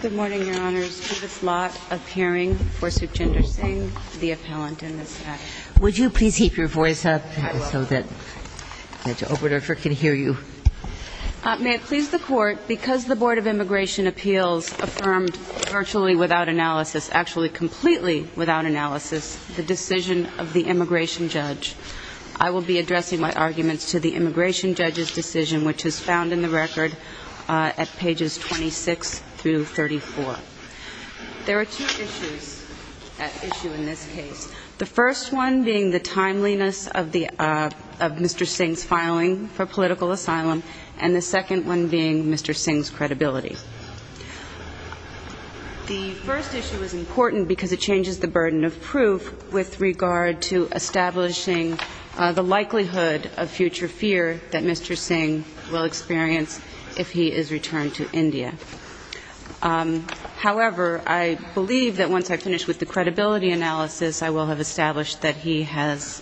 Good morning, Your Honors. Judith Lott, appearing, Forsook Jindersingh, the appellant in this matter. May it please the Court, because the Board of Immigration Appeals affirmed virtually without analysis, actually completely without analysis, the decision of the immigration judge, I will be addressing my arguments to the immigration judge's decision, which is found in the record at pages 26-34. There are two issues at issue in this case, the first one being the timeliness of Mr. Singh's filing for political asylum, and the second one being Mr. Singh's credibility. The first issue is important because it changes the burden of proof with regard to establishing the likelihood of future fear that Mr. Singh will experience if he is returned to India. However, I believe that once I finish with the credibility analysis, I will have established that he has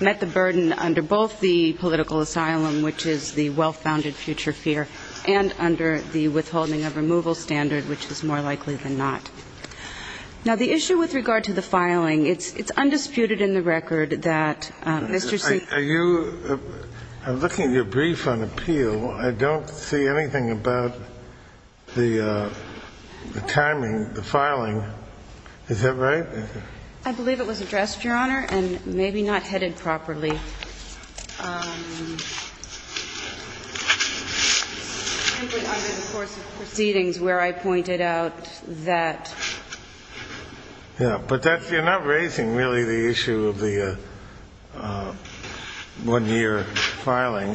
met the burden under both the political asylum, which is the well-founded future fear, and under the withholding of removal standard, which is more likely than not. Now, the issue with regard to the filing, it's undisputed in the record that Mr. Singh will be returning to India. I'm looking at your brief on appeal. I don't see anything about the timing, the filing. Is that right? I believe it was addressed, Your Honor, and maybe not headed properly, simply under the course of proceedings where I pointed out that But you're not raising, really, the issue of the one-year filing,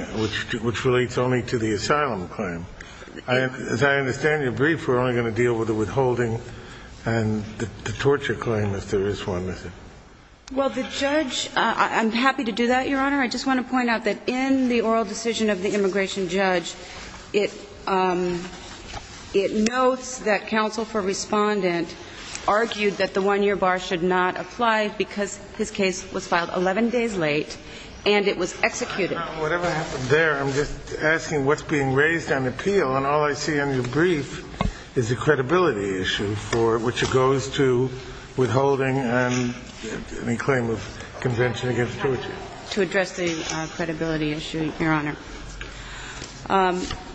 which relates only to the asylum claim. As I understand your brief, we're only going to deal with the withholding and the torture claim if there is one, is it? Well, the judge, I'm happy to do that, Your Honor. I just want to point out that in the argued that the one-year bar should not apply because his case was filed 11 days late and it was executed. Whatever happened there, I'm just asking what's being raised on appeal, and all I see in your brief is the credibility issue, which goes to withholding and the claim of convention against torture. To address the credibility issue, Your Honor.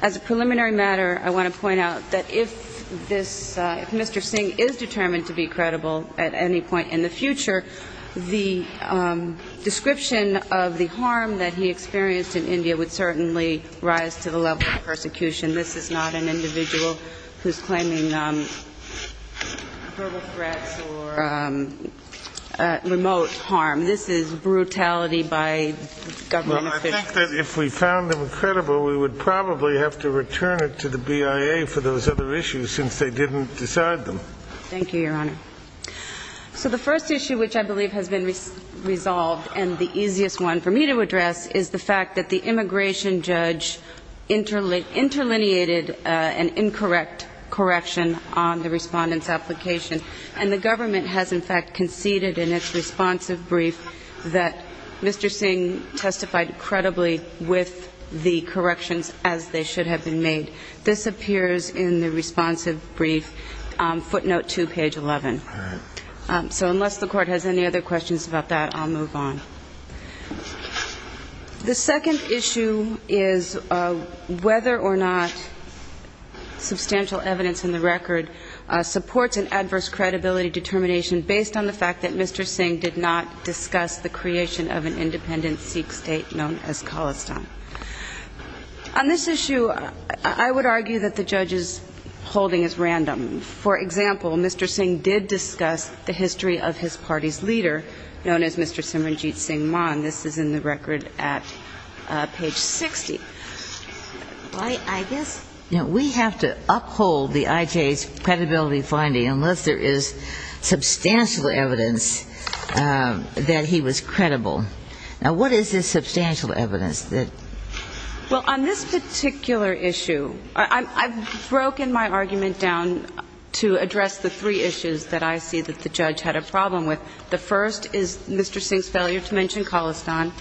As a preliminary matter, I want to point out that if this if Mr. Singh is determined to be credible at any point in the future, the description of the harm that he experienced in India would certainly rise to the level of persecution. This is not an individual who's claiming verbal threats or remote harm. This is brutality by government officials. The fact that if we found him credible, we would probably have to return it to the BIA for those other issues since they didn't decide them. Thank you, Your Honor. So the first issue which I believe has been resolved and the easiest one for me to address is the fact that the immigration judge interlineated an incorrect correction on the Respondent's application, and the government has in fact conceded in its responsive brief that Mr. Singh testified credibly with the corrections as they should have been made. This appears in the responsive brief, footnote 2, page 11. So unless the Court has any other questions about that, I'll move on. The second issue is whether or not substantial evidence in the record supports an adverse credibility determination based on the fact that Mr. Singh did not discuss the creation of an independent Sikh state known as Khalistan. On this issue, I would argue that the judge's holding is random. For example, Mr. Singh did discuss the history of his party's leader, known as Mr. Simranjit Singh Maan. This is in the record at page 60. I guess we have to uphold the IJ's credibility finding unless there is substantial evidence of an adverse credibility determination. Now, what is this substantial evidence? Well, on this particular issue, I've broken my argument down to address the three issues that I see that the judge had a problem with. The first is Mr. Singh's failure to mention Khalistan.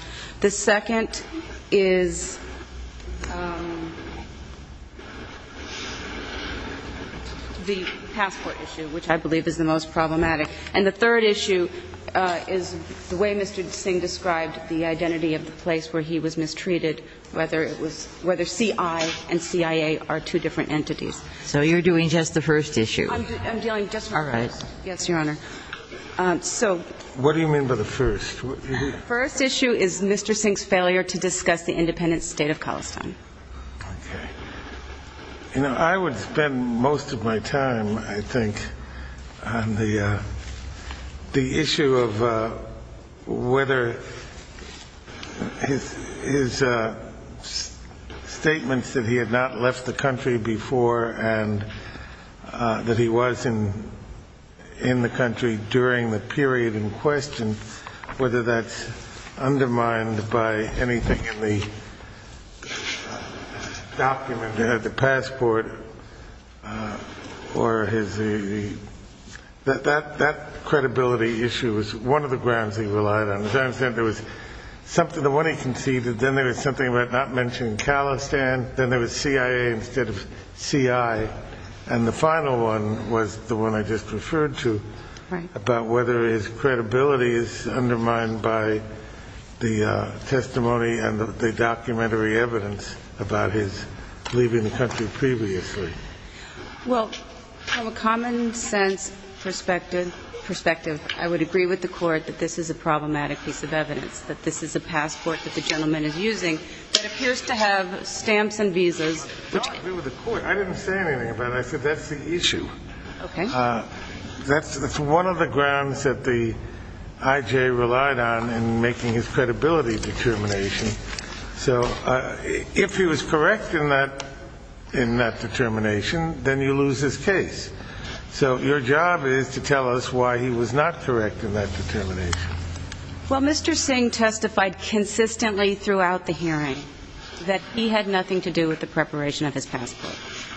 The second is the passport issue, which I believe is the most problematic. And the third issue is the way Mr. Singh described the identity of the place where he was mistreated, whether it was whether CI and CIA are two different entities. So you're doing just the first issue? I'm dealing just the first. Yes, Your Honor. What do you mean by the first? The first issue is Mr. Singh's failure to discuss the independent state of Khalistan. Okay. You know, I would spend most of my time, I think, on the issue of whether his statements that he had not left the country before and that he was in the country during the period in question, whether he was in the country during the period in question. And whether that's undermined by anything in the document, the passport, or his, that credibility issue was one of the grounds he relied on. As I understand it, there was something, the one he conceded, then there was something about not mentioning Khalistan, then there was CIA instead of CI. And the final one was the one I just referred to about whether his credibility is undermined by anything in the document. And whether that's undermined by the testimony and the documentary evidence about his leaving the country previously. Well, from a common-sense perspective, I would agree with the Court that this is a problematic piece of evidence, that this is a passport that the gentleman is using that appears to have stamps and visas. No, I agree with the Court. I didn't say anything about it. I said that's the issue. That's one of the grounds that the I.J. relied on in making his credibility determination. So if he was correct in that determination, then you lose his case. So your job is to tell us why he was not correct in that determination. Well, Mr. Singh testified consistently throughout the hearing that he had nothing to do with the preparation of his passport.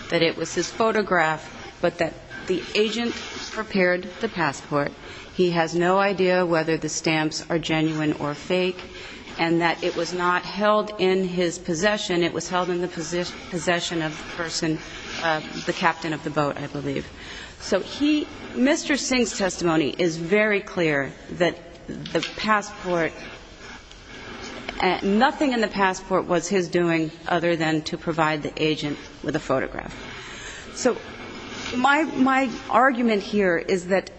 That it was his photograph, but that the agent prepared the passport. He has no idea whether the stamps are genuine or fake, and that it was not held in his possession. It was held in the possession of the person, the captain of the boat, I believe. So he, Mr. Singh's testimony is very clear that the passport, nothing in the passport was his doing other than to provide the agent with a photograph. So my argument here is that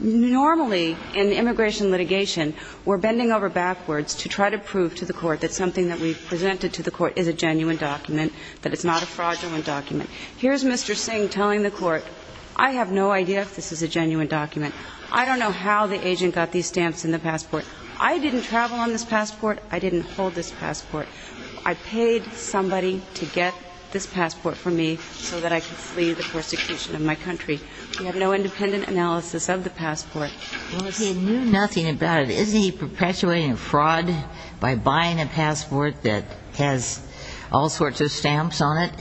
normally in immigration litigation, we're bending over backwards to try to prove to the Court that something that we've presented to the Court is a genuine document, that it's not a fraudulent document. Here's Mr. Singh telling the Court, I have no idea if this is a genuine document. I don't know how the agent got these stamps in the passport. I didn't travel on this passport. I didn't hold this passport. I paid somebody to get this passport for me so that I could flee the persecution of my country. We have no independent analysis of the passport. Well, if he knew nothing about it, isn't he perpetuating a fraud by buying a passport that has all sorts of stamps on it?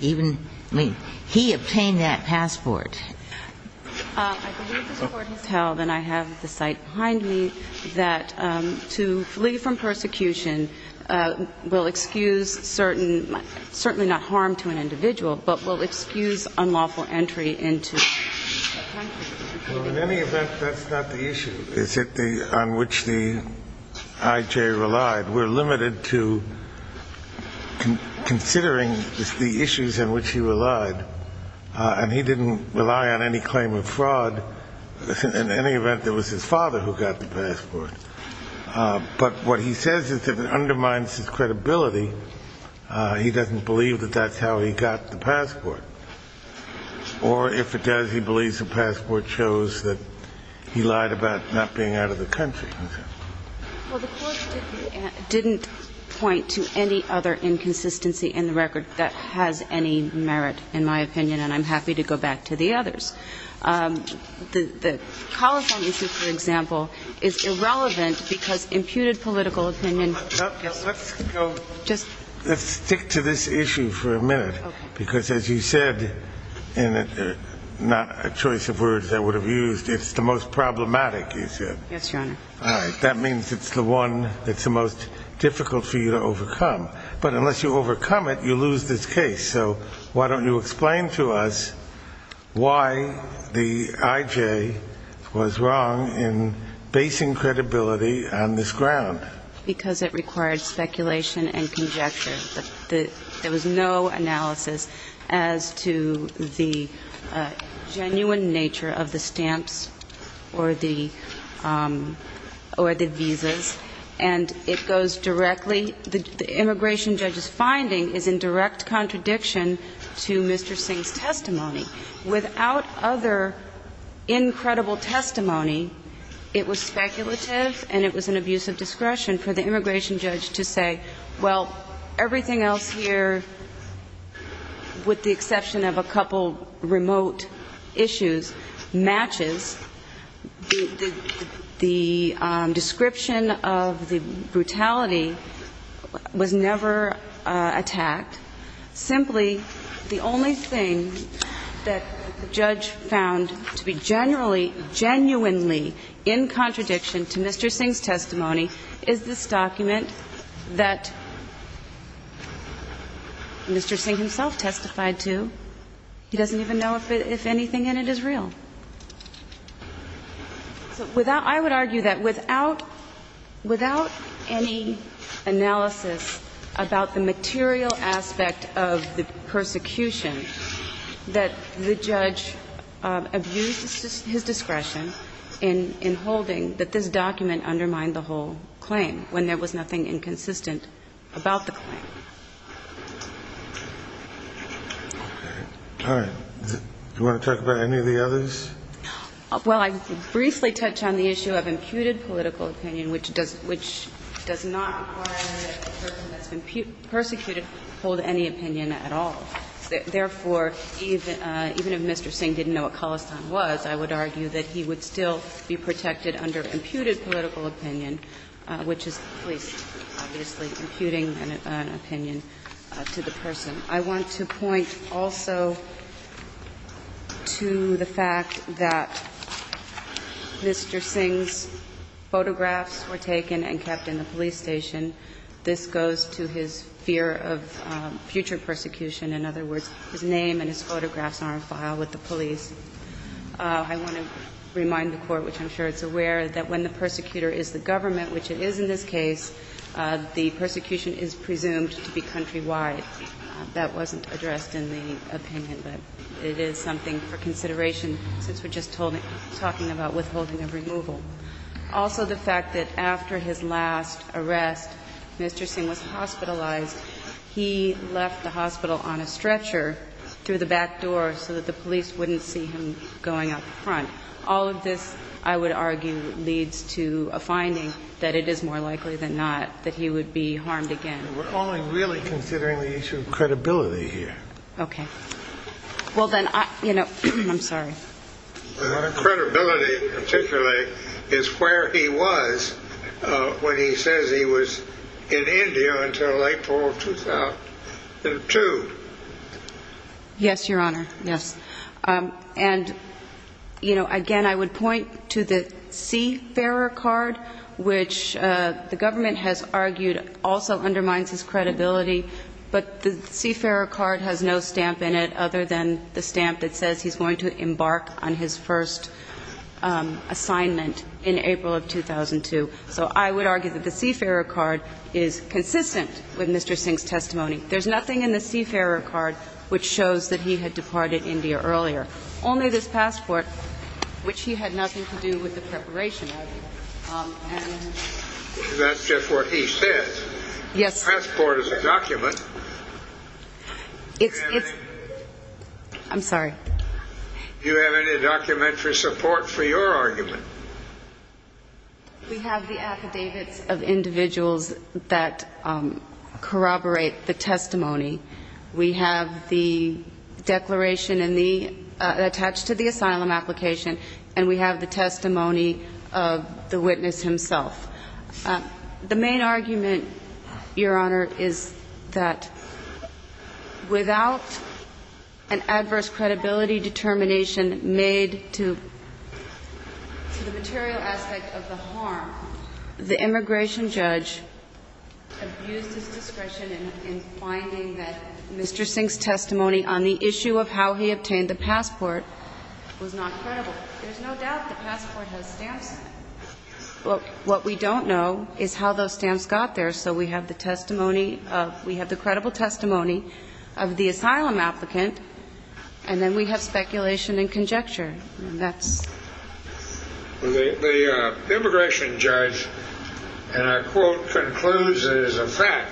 Even, I mean, he obtained that passport. I believe the Court has held, and I have the site behind me, that to flee from persecution, the agent obtained the passport. It will excuse certain, certainly not harm to an individual, but will excuse unlawful entry into the country. Well, in any event, that's not the issue, is it, on which the I.J. relied. We're limited to considering the issues in which he relied, and he didn't rely on any claim of fraud. In any event, it was his father who got the passport. But what he says is if it undermines his credibility, he doesn't believe that that's how he got the passport. Or if it does, he believes the passport shows that he lied about not being out of the country. Well, the Court didn't point to any other inconsistency in the record that has any merit, in my opinion, and I'm happy to go back to the others. The Colifant issue, for example, is irrelevant because imputed political opinion. Let's stick to this issue for a minute, because as you said, and not a choice of words I would have used, it's the most problematic issue. Yes, Your Honor. All right, that means it's the one that's the most difficult for you to overcome. The I.J. was wrong in basing credibility on this ground. Because it required speculation and conjecture. There was no analysis as to the genuine nature of the stamps or the visas, and it goes directly the immigration judge's finding is in direct contradiction to Mr. Singh's testimony. Without other incredible testimony, it was speculative and it was an abuse of discretion for the immigration judge to say, well, everything else here, with the exception of a couple remote issues, matches. The description of the brutality was never attacked. Simply, the only thing that the judge found to be generally, genuinely in contradiction to Mr. Singh's testimony is this document that Mr. Singh himself testified to. He doesn't even know if anything in it is real. I would argue that without any analysis about the material aspects of the document, the aspect of the persecution, that the judge abused his discretion in holding that this document undermined the whole claim when there was nothing inconsistent about the claim. All right. Do you want to talk about any of the others? Well, I would briefly touch on the issue of imputed political opinion, which does not require that a person that's been persecuted hold any opinion at all. Therefore, even if Mr. Singh didn't know what Khalistan was, I would argue that he would still be protected under imputed political opinion, which is the police, obviously, imputing an opinion to the person. I want to point also to the fact that Mr. Singh's photographs were taken and kept in the police station. This goes to his fear of future persecution. In other words, his name and his photographs are on file with the police. I want to remind the Court, which I'm sure it's aware, that when the persecutor is the government, which it is in this case, the persecution is presumed to be countrywide. That wasn't addressed in the opinion, but it is something for consideration since we're just talking about withholding of removal. Also the fact that after his last arrest, Mr. Singh was hospitalized. He left the hospital on a stretcher through the back door so that the police wouldn't see him going out the front. All of this, I would argue, leads to a finding that it is more likely than not that he would be harmed again. We're only really considering the issue of credibility here. Okay. Well, then, you know, I'm sorry. Credibility, particularly, is where he was when he says he was in India until April 2002. Yes, Your Honor, yes. And, you know, again, I would point to the Seafarer card, which the government has said undermines his credibility, but the Seafarer card has no stamp in it other than the stamp that says he's going to embark on his first assignment in April of 2002. So I would argue that the Seafarer card is consistent with Mr. Singh's testimony. There's nothing in the Seafarer card which shows that he had departed India earlier, only this passport, which he had nothing to do with the preparation of. That's just what he said. Yes. The passport is a document. It's, it's. I'm sorry. Do you have any documentary support for your argument? We have the affidavits of individuals that corroborate the testimony. We have the declaration attached to the asylum application, and we have the testimony of the witness himself. The main argument, Your Honor, is that without an adverse credibility determination made to the material aspect of the harm, the immigration judge abused his discretion in finding that Mr. Singh's testimony on the issue of how he obtained the passport was not credible. There's no doubt the passport has stamps on it. What we don't know is how those stamps got there. So we have the testimony of, we have the credible testimony of the asylum applicant, and then we have speculation and conjecture. That's. The immigration judge, and I quote, concludes it as a fact,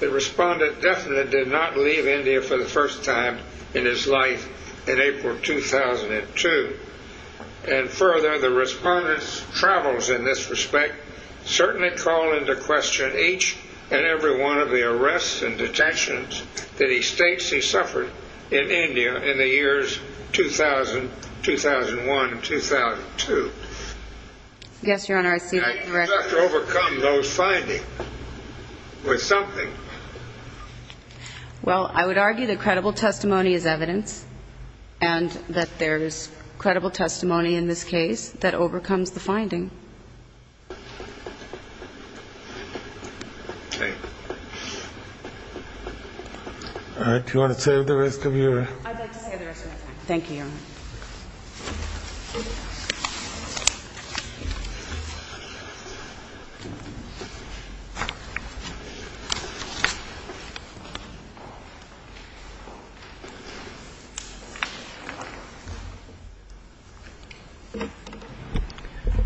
The respondent definitely did not leave India for the first time in his life in April 2002. And further, the respondents' travels in this respect certainly call into question each and every one of the arrests and detentions that he states he suffered in India in the years 2000, 2001, 2002. Yes, Your Honor, I see that. He's got to overcome those findings with something. Well, I would argue that credible testimony is evidence and that there is credible testimony in this case that overcomes the finding. All right, do you want to save the rest of your. I'd like to save the rest of my time. Thank you, Your Honor. Thank you.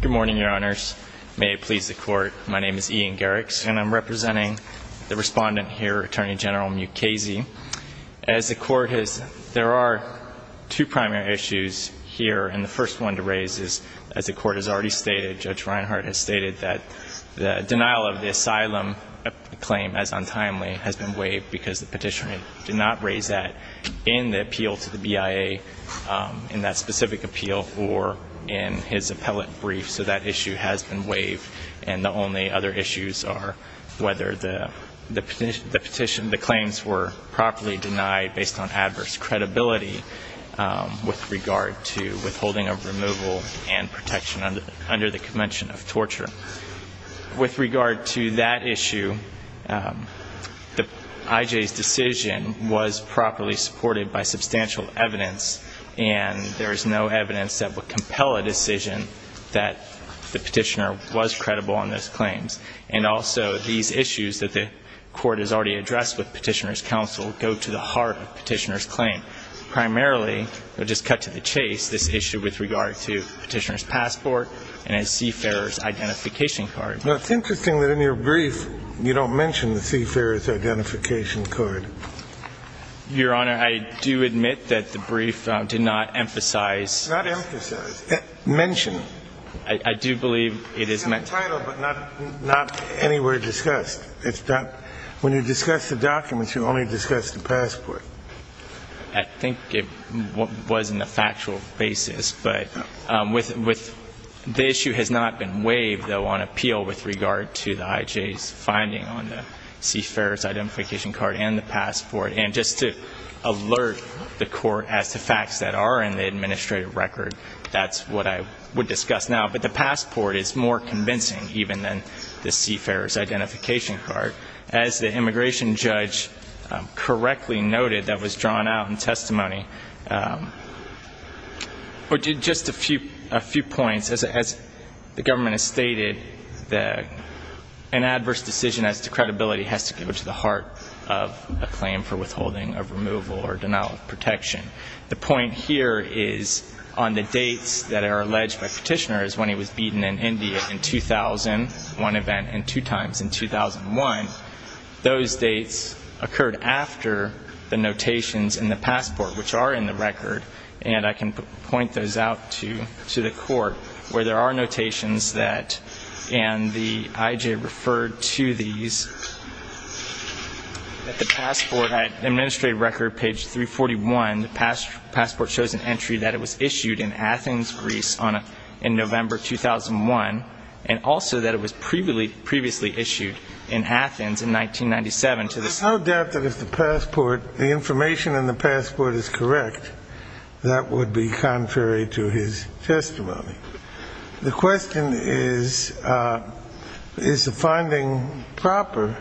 Good morning, Your Honors. May it please the Court, my name is Ian Garrix, and I'm representing the respondent here, Attorney General Mukasey. As the Court has, there are two primary issues here, and the first one to raise is, as the Court has already stated, Judge Reinhart has stated that the denial of the asylum claim as untimely has been waived because the petitioner did not raise that in the appeal to the BIA in that specific appeal or in his appellate brief, so that issue has been waived. And the only other issues are whether the claims were properly denied based on adverse credibility with regard to withholding of removal and protection under the convention of torture. With regard to that issue, I.J.'s decision was properly supported by substantial evidence, and there is no evidence that would compel a decision that the petitioner was credible on those claims. And also, these issues that the Court has already addressed with Petitioner's Counsel go to the heart of Petitioner's claim. Primarily, I'll just cut to the chase, this issue with regard to Petitioner's passport and a seafarer's identification card. It's interesting that in your brief you don't mention the seafarer's identification card. Your Honor, I do admit that the brief did not emphasize this. Not emphasize. Mention. I do believe it is meant to. It's in the title, but not anywhere discussed. When you discuss the documents, you only discuss the passport. I think it was in the factual basis. But the issue has not been waived, though, on appeal with regard to the I.J.'s finding on the seafarer's identification card and the passport. And just to alert the Court as to facts that are in the administrative record, that's what I would discuss now. But the passport is more convincing even than the seafarer's identification card. As the immigration judge correctly noted that was drawn out in testimony, or did just a few points, as the government has stated, an adverse decision as to credibility has to go to the heart of a claim for withholding of removal or denial of protection. The point here is on the dates that are alleged by Petitioner is when he was beaten in India in 2000, one event and two times in 2001. Those dates occurred after the notations in the passport, which are in the record, and I can point those out to the Court, where there are notations that, and the I.J. referred to these at the passport. But at administrative record, page 341, the passport shows an entry that it was issued in Athens, Greece, in November 2001, and also that it was previously issued in Athens in 1997. How doubtful is the passport, the information in the passport is correct? That would be contrary to his testimony. The question is, is the finding proper?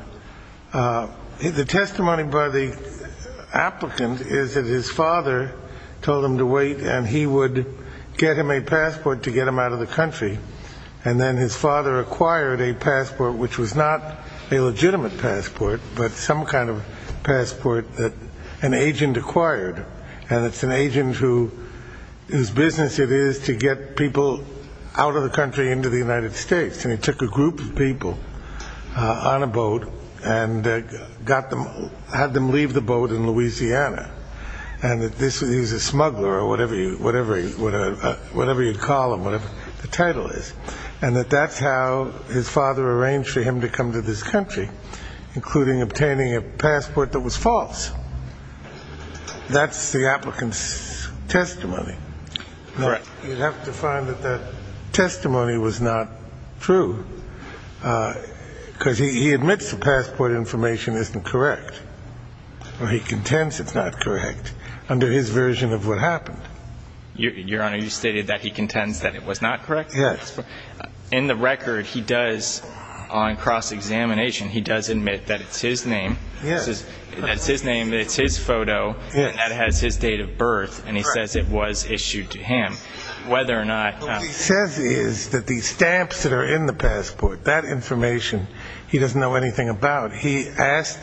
The testimony by the applicant is that his father told him to wait and he would get him a passport to get him out of the country, and then his father acquired a passport, which was not a legitimate passport, but some kind of passport that an agent acquired, and it's an agent whose business it is to get people out of the country into the United States, and he took a group of people on a boat and had them leave the boat in Louisiana, and he was a smuggler or whatever you'd call him, whatever the title is, and that that's how his father arranged for him to come to this country, including obtaining a passport that was false. That's the applicant's testimony. You'd have to find that that testimony was not true, because he admits the passport information isn't correct, or he contends it's not correct under his version of what happened. Your Honor, you stated that he contends that it was not correct? Yes. In the record, he does, on cross-examination, he does admit that it's his name. Yes. It's his name, it's his photo, and that has his date of birth, and he says it was issued to him, whether or not. What he says is that these stamps that are in the passport, that information he doesn't know anything about. He asked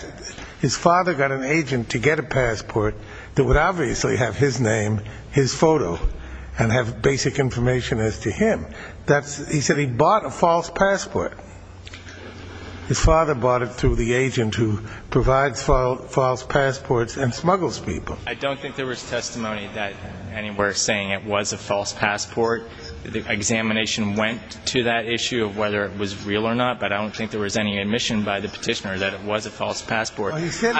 his father got an agent to get a passport that would obviously have his name, his photo, and have basic information as to him. He said he bought a false passport. His father bought it through the agent who provides false passports and smuggles people. I don't think there was testimony anywhere saying it was a false passport. The examination went to that issue of whether it was real or not, but I don't think there was any admission by the petitioner that it was a false passport. He said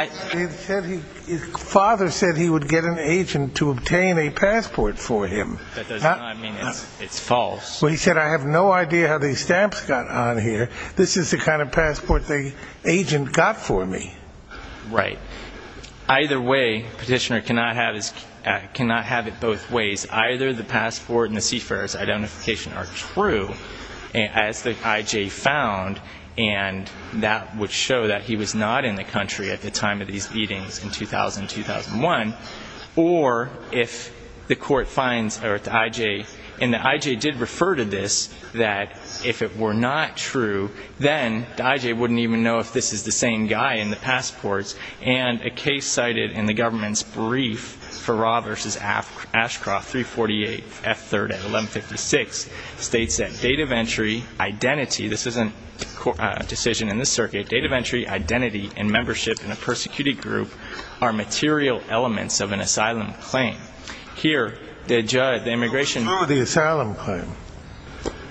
his father said he would get an agent to obtain a passport for him. That does not mean it's false. Well, he said, I have no idea how these stamps got on here. This is the kind of passport the agent got for me. Right. Either way, petitioner cannot have it both ways. Either the passport and the seafarer's identification are true, as the I.J. found, and that would show that he was not in the country at the time of these meetings in 2000 and 2001, or if the court finds the I.J. And the I.J. did refer to this that if it were not true, then the I.J. wouldn't even know if this is the same guy in the passports, and a case cited in the government's brief for Raw v. Ashcroft, 348 F. 3rd at 1156, states that date of entry, identity, this isn't a decision in this circuit, date of entry, identity, and membership in a persecuted group are material elements of an asylum claim. Here, the immigration. Through the asylum claim.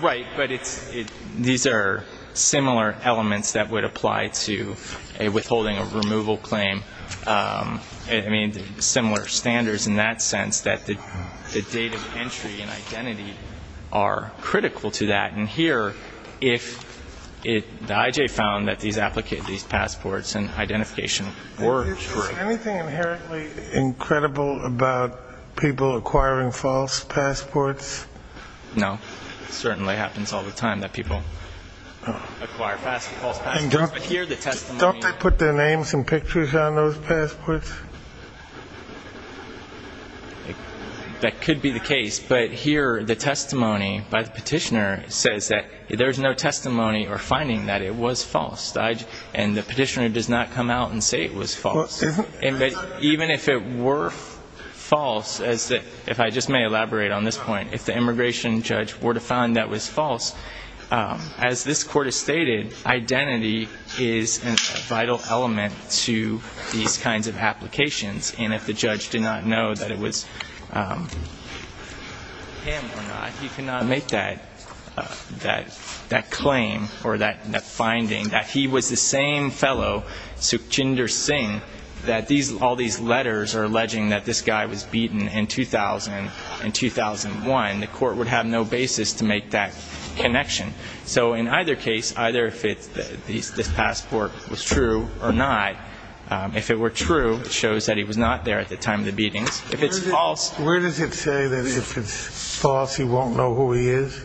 Right, but these are similar elements that would apply to a withholding of removal claim. I mean, similar standards in that sense, that the date of entry and identity are critical to that. And here, if the I.J. found that these passports and identification were true. Anything inherently incredible about people acquiring false passports? No. It certainly happens all the time that people acquire false passports. And don't they put their names and pictures on those passports? That could be the case, but here, the testimony by the petitioner says that there's no testimony or finding that it was false, and the petitioner does not come out and say it was false. Even if it were false, if I just may elaborate on this point, if the immigration judge were to find that was false, as this Court has stated, identity is a vital element to these kinds of applications. And if the judge did not know that it was him or not, he could not make that claim or that finding, that he was the same fellow, Sukhchinder Singh, that all these letters are alleging that this guy was beaten in 2000 and 2001. The Court would have no basis to make that connection. So in either case, either if this passport was true or not, if it were true, it shows that he was not there at the time of the beatings. If it's false... Where does it say that if it's false, he won't know who he is?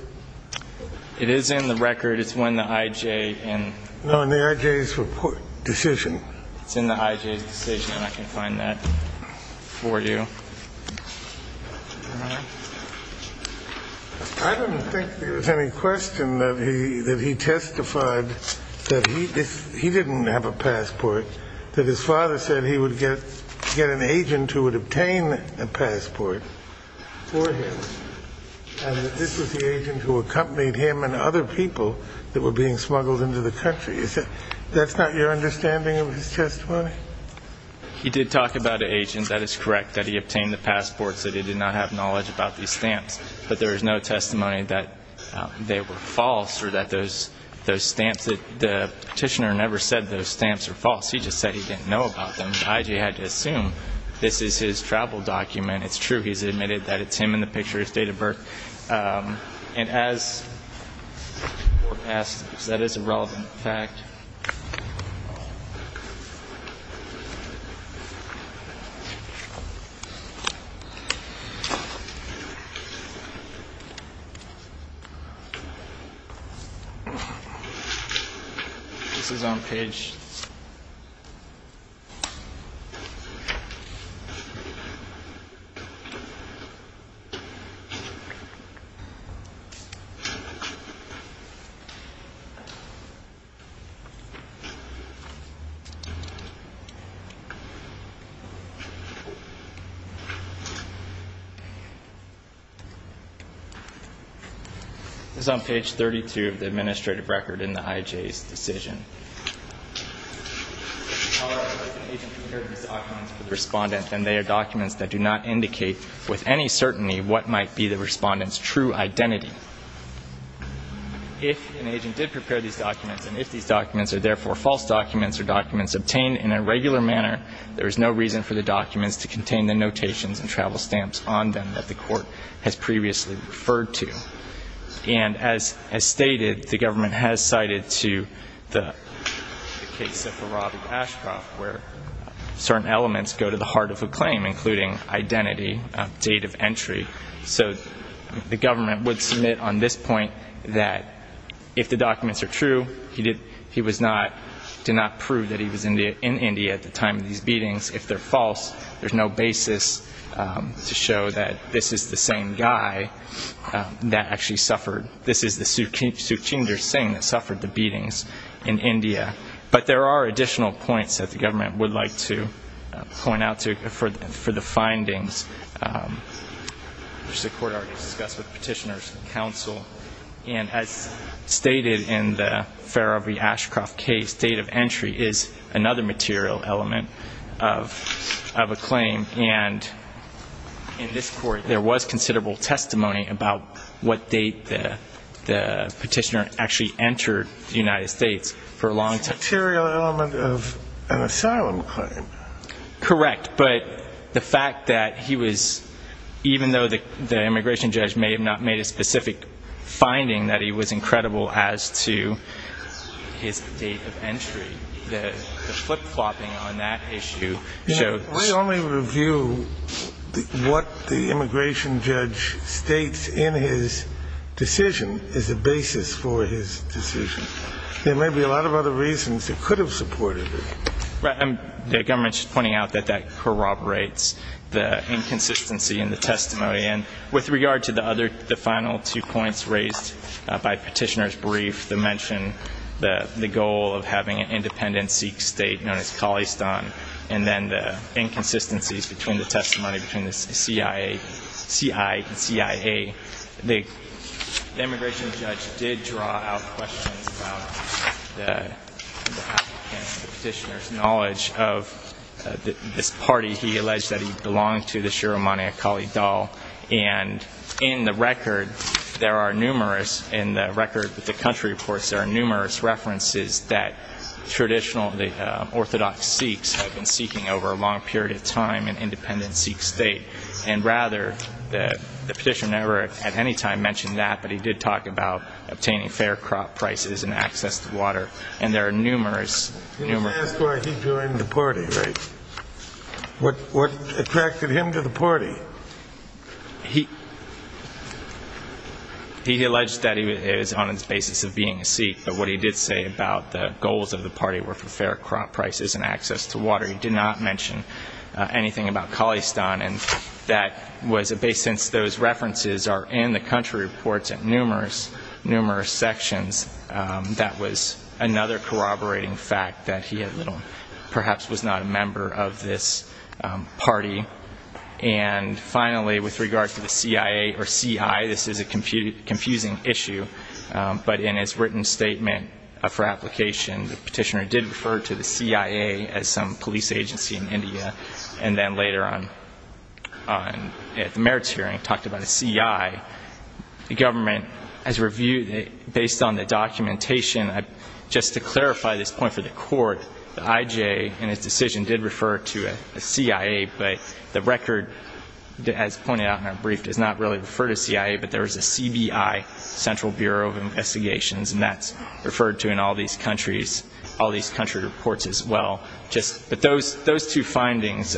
It is in the record. It's when the IJ and... No, in the IJ's report decision. It's in the IJ's decision, and I can find that for you. I don't think there was any question that he testified that he didn't have a passport, that his father said he would get an agent who would obtain a passport for him, and that this was the agent who accompanied him and other people that were being smuggled into the country. That's not your understanding of his testimony? He did talk about an agent. That is correct, that he obtained the passport, so that he did not have knowledge about these stamps. But there is no testimony that they were false or that those stamps... The petitioner never said those stamps were false. He just said he didn't know about them. The IJ had to assume this is his travel document. It's true he's admitted that it's him in the picture, his date of birth. And as forecast, that is a relevant fact. This is on page... This is on page 32 of the administrative record in the IJ's decision. If an agent prepared these documents for the respondent, then they are documents that do not indicate with any certainty what might be the respondent's true identity. If an agent did prepare these documents, and if these documents are therefore false documents or documents obtained in a regular manner, there is no reason for the documents to contain the notations and travel stamps on them that the court has previously referred to. And as stated, the government has cited to the case of Farabi Ashraf, where certain elements go to the heart of a claim, including identity, date of entry. So the government would submit on this point that if the documents are true, he did not prove that he was in India at the time of these beatings. If they're false, there's no basis to show that this is the same guy that actually suffered. This is the Sukhchinder Singh that suffered the beatings in India. But there are additional points that the government would like to point out for the findings, which the court already discussed with petitioners and counsel. And as stated in the Farabi Ashraf case, date of entry is another material element of a claim. And in this court, there was considerable testimony about what date the petitioner actually entered the United States for a long time. It's a material element of an asylum claim. Correct. But the fact that he was, even though the immigration judge may have not made a specific finding that he was incredible as to his date of entry, the flip-flopping on that issue showed... We only review what the immigration judge states in his decision as a basis for his decision. There may be a lot of other reasons that could have supported it. Right. And the government's pointing out that that corroborates the inconsistency in the testimony. And with regard to the other, the final two points raised by petitioner's brief, the mention that the goal of having an independent Sikh state known as Khalistan and then the inconsistencies between the testimony between the CIA and CIA, the immigration judge did draw out questions about the applicant, the petitioner's knowledge of this party he alleged that he belonged to, the Shurah Mani Akali Dal. And in the record, there are numerous, in the record with the country reports, there are numerous references that traditionally orthodox Sikhs have been seeking over a long period of time an independent Sikh state. And rather, the petitioner never at any time mentioned that, but he did talk about obtaining fair crop prices and access to water. And there are numerous, numerous... Let's ask why he joined the party, right? What attracted him to the party? He alleged that he was on his basis of being a Sikh, but what he did say about the goals of the party were for fair crop prices and access to water. He did not mention anything about Khalistan, and that was a base since those references are in the country reports in numerous, numerous sections. That was another corroborating fact that he had little, perhaps was not a member of this party. And finally, with regard to the CIA or CI, this is a confusing issue, but in his written statement for application, the petitioner did refer to the CIA as some police agency in India, and then later on at the merits hearing talked about a CI. The government has reviewed it based on the documentation. Just to clarify this point for the court, the IJ in his decision did refer to a CIA, but the record, as pointed out in our brief, does not really refer to CIA, but there is a CBI, Central Bureau of Investigations, and that's referred to in all these country reports as well. But those two findings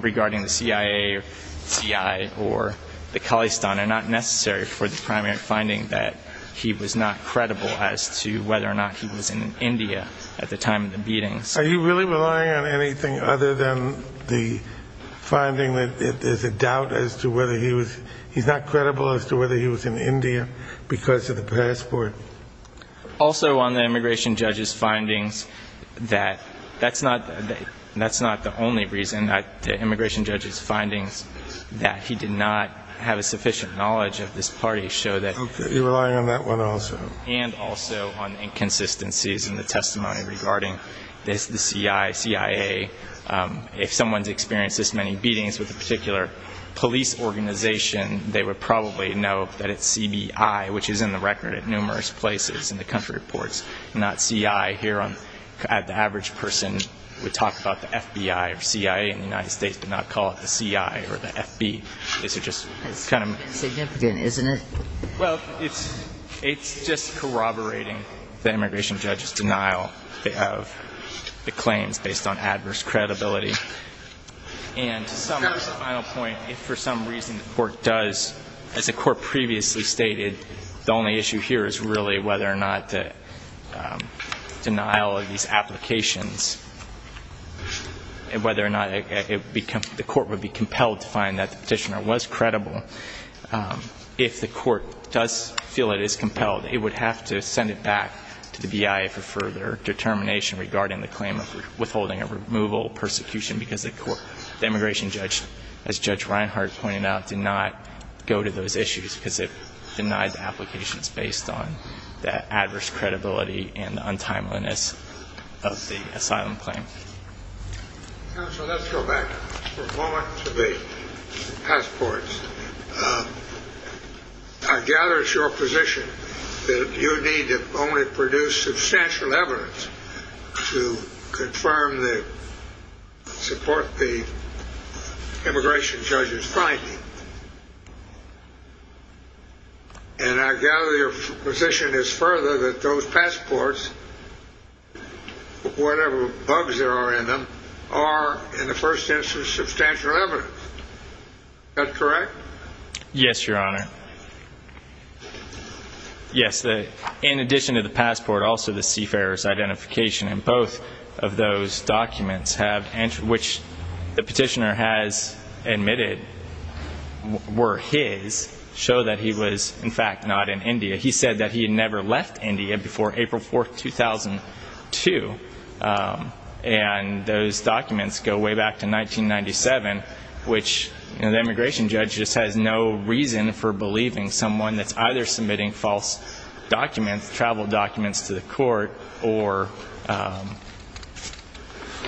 regarding the CIA or CI or the Khalistan are not necessary for the primary finding that he was not credible as to whether or not he was in India at the time of the beatings. Are you really relying on anything other than the finding that there's a doubt as to whether he was ñ he's not credible as to whether he was in India because of the passport? Also on the immigration judge's findings that that's not the only reason. The immigration judge's findings that he did not have a sufficient knowledge of this party show that ñ Okay. You're relying on that one also. And also on inconsistencies in the testimony regarding the CI, CIA. If someone's experienced this many beatings with a particular police organization, they would probably know that it's CBI, which is in the record at numerous places in the country reports, not CI. Here, the average person would talk about the FBI or CIA in the United States, but not call it the CI or the FB. These are just kind of ñ It's insignificant, isn't it? Well, it's just corroborating the immigration judge's denial of the claims based on adverse credibility. And to summarize the final point, if for some reason the court does, as the court previously stated, the only issue here is really whether or not the denial of these applications, whether or not the court would be compelled to find that the petitioner was credible if the court does feel it is compelled, it would have to send it back to the BIA for further determination regarding the claim of withholding a removal, persecution, because the immigration judge, as Judge Reinhart pointed out, did not go to those issues because it denied the applications based on the adverse credibility and the untimeliness of the asylum claim. Counsel, let's go back for a moment to the passports. I gather it's your position that you need to only produce substantial evidence to support the immigration judge's finding. And I gather your position is further that those passports, whatever bugs there are in them, are, in the first instance, substantial evidence. Is that correct? Yes, Your Honor. Yes, in addition to the passport, also the seafarer's identification in both of those documents, which the petitioner has admitted were his, show that he was, in fact, not in India. He said that he had never left India before April 4, 2002. And those documents go way back to 1997, which the immigration judge just has no reason for believing someone that's either submitting false documents, travel documents to the court, or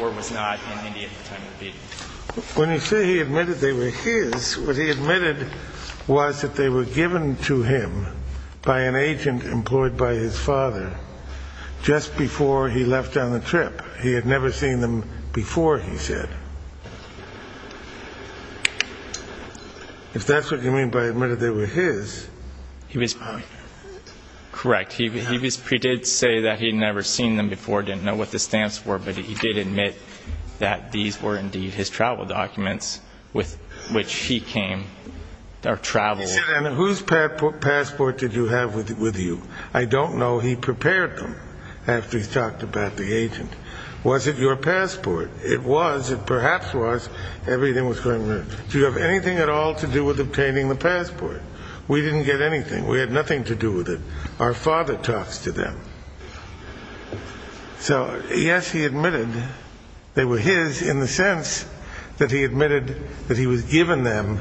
was not in India at the time of the beating. When you say he admitted they were his, what he admitted was that they were given to him by an agent employed by his father just before he left on the trip. He had never seen them before, he said. If that's what you mean by admitted they were his. Correct. He did say that he had never seen them before, didn't know what the stamps were, but he did admit that these were indeed his travel documents with which he came or traveled. He said, and whose passport did you have with you? I don't know. He prepared them after he's talked about the agent. Was it your passport? It was. It perhaps was. Everything was going right. Do you have anything at all to do with obtaining the passport? We didn't get anything. We had nothing to do with it. Our father talks to them. So, yes, he admitted they were his in the sense that he admitted that he was given them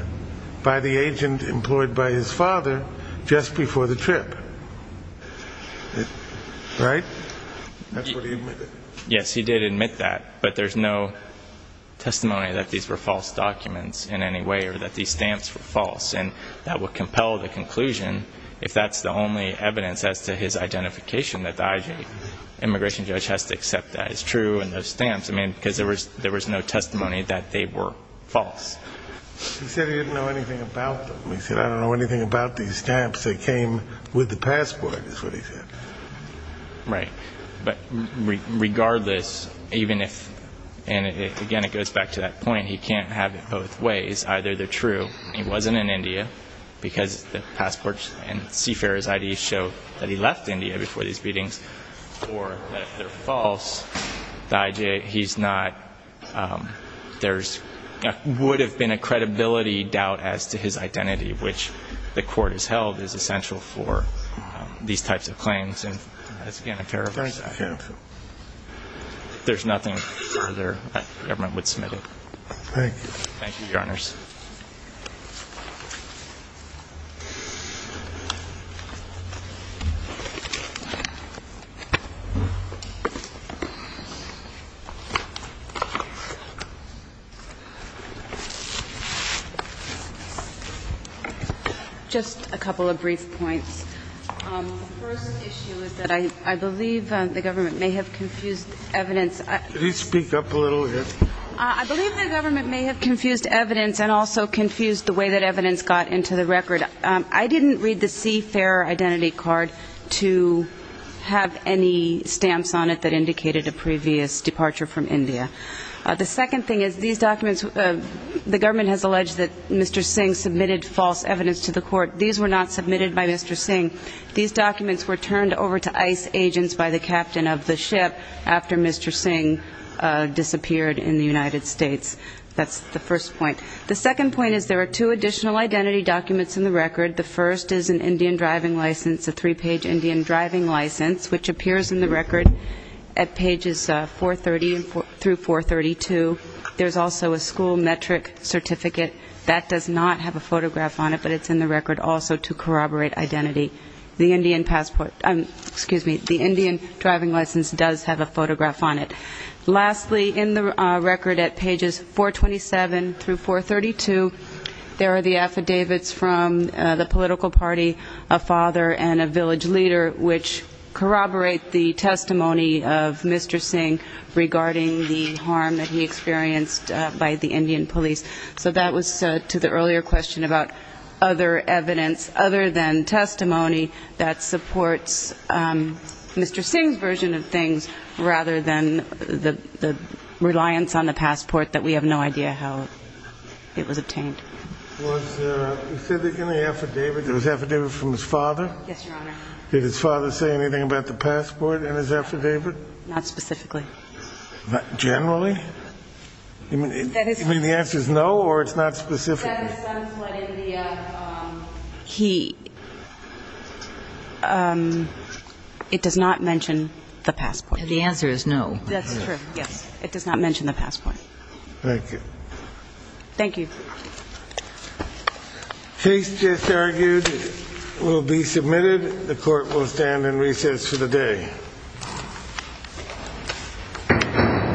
by the agent employed by his father just before the trip. Right? That's what he admitted. Yes, he did admit that, but there's no testimony that these were false documents in any way or that these stamps were false, and that would compel the conclusion, if that's the only evidence as to his identification, that the immigration judge has to accept that it's true and those stamps, I mean, because there was no testimony that they were false. He said he didn't know anything about them. He said, I don't know anything about these stamps. They came with the passport, is what he said. Right. But regardless, even if, and again, it goes back to that point, he can't have it both ways. Either they're true. He wasn't in India because the passport and CFARE's ID show that he left India before these meetings, or that they're false. He's not, there would have been a credibility doubt as to his identity, which the court has held is essential for these types of claims. And that's, again, a paragraph. Thank you. If there's nothing further, the government would submit it. Thank you. Thank you, Your Honors. Just a couple of brief points. The first issue is that I believe the government may have confused evidence. Could you speak up a little bit? I believe the government may have confused evidence and also confused the way that evidence got into the record. I didn't read the CFARE identity card to have any stamps on it that indicated a previous departure from India. The second thing is these documents, the government has alleged that Mr. Singh submitted false evidence to the court. These were not submitted by Mr. Singh. These documents were turned over to ICE agents by the captain of the ship after Mr. Singh disappeared in the United States. That's the first point. The second point is there are two additional identity documents in the record. The first is an Indian driving license, a three-page Indian driving license, which appears in the record at pages 430 through 432. There's also a school metric certificate. That does not have a photograph on it, but it's in the record also to corroborate identity. The Indian passport, excuse me, the Indian driving license does have a photograph on it. Lastly, in the record at pages 427 through 432, there are the affidavits from the political party, a father, and a village leader which corroborate the testimony of Mr. Singh regarding the harm that he experienced by the Indian police. So that was to the earlier question about other evidence other than testimony that supports Mr. Singh's version of things rather than the reliance on the passport that we have no idea how it was obtained. Was there any affidavit from his father? Yes, Your Honor. Did his father say anything about the passport in his affidavit? Not specifically. Generally? You mean the answer is no or it's not specific? It does not mention the passport. The answer is no. That's true, yes. It does not mention the passport. Thank you. Thank you. Case just argued will be submitted. The Court will stand in recess for the day.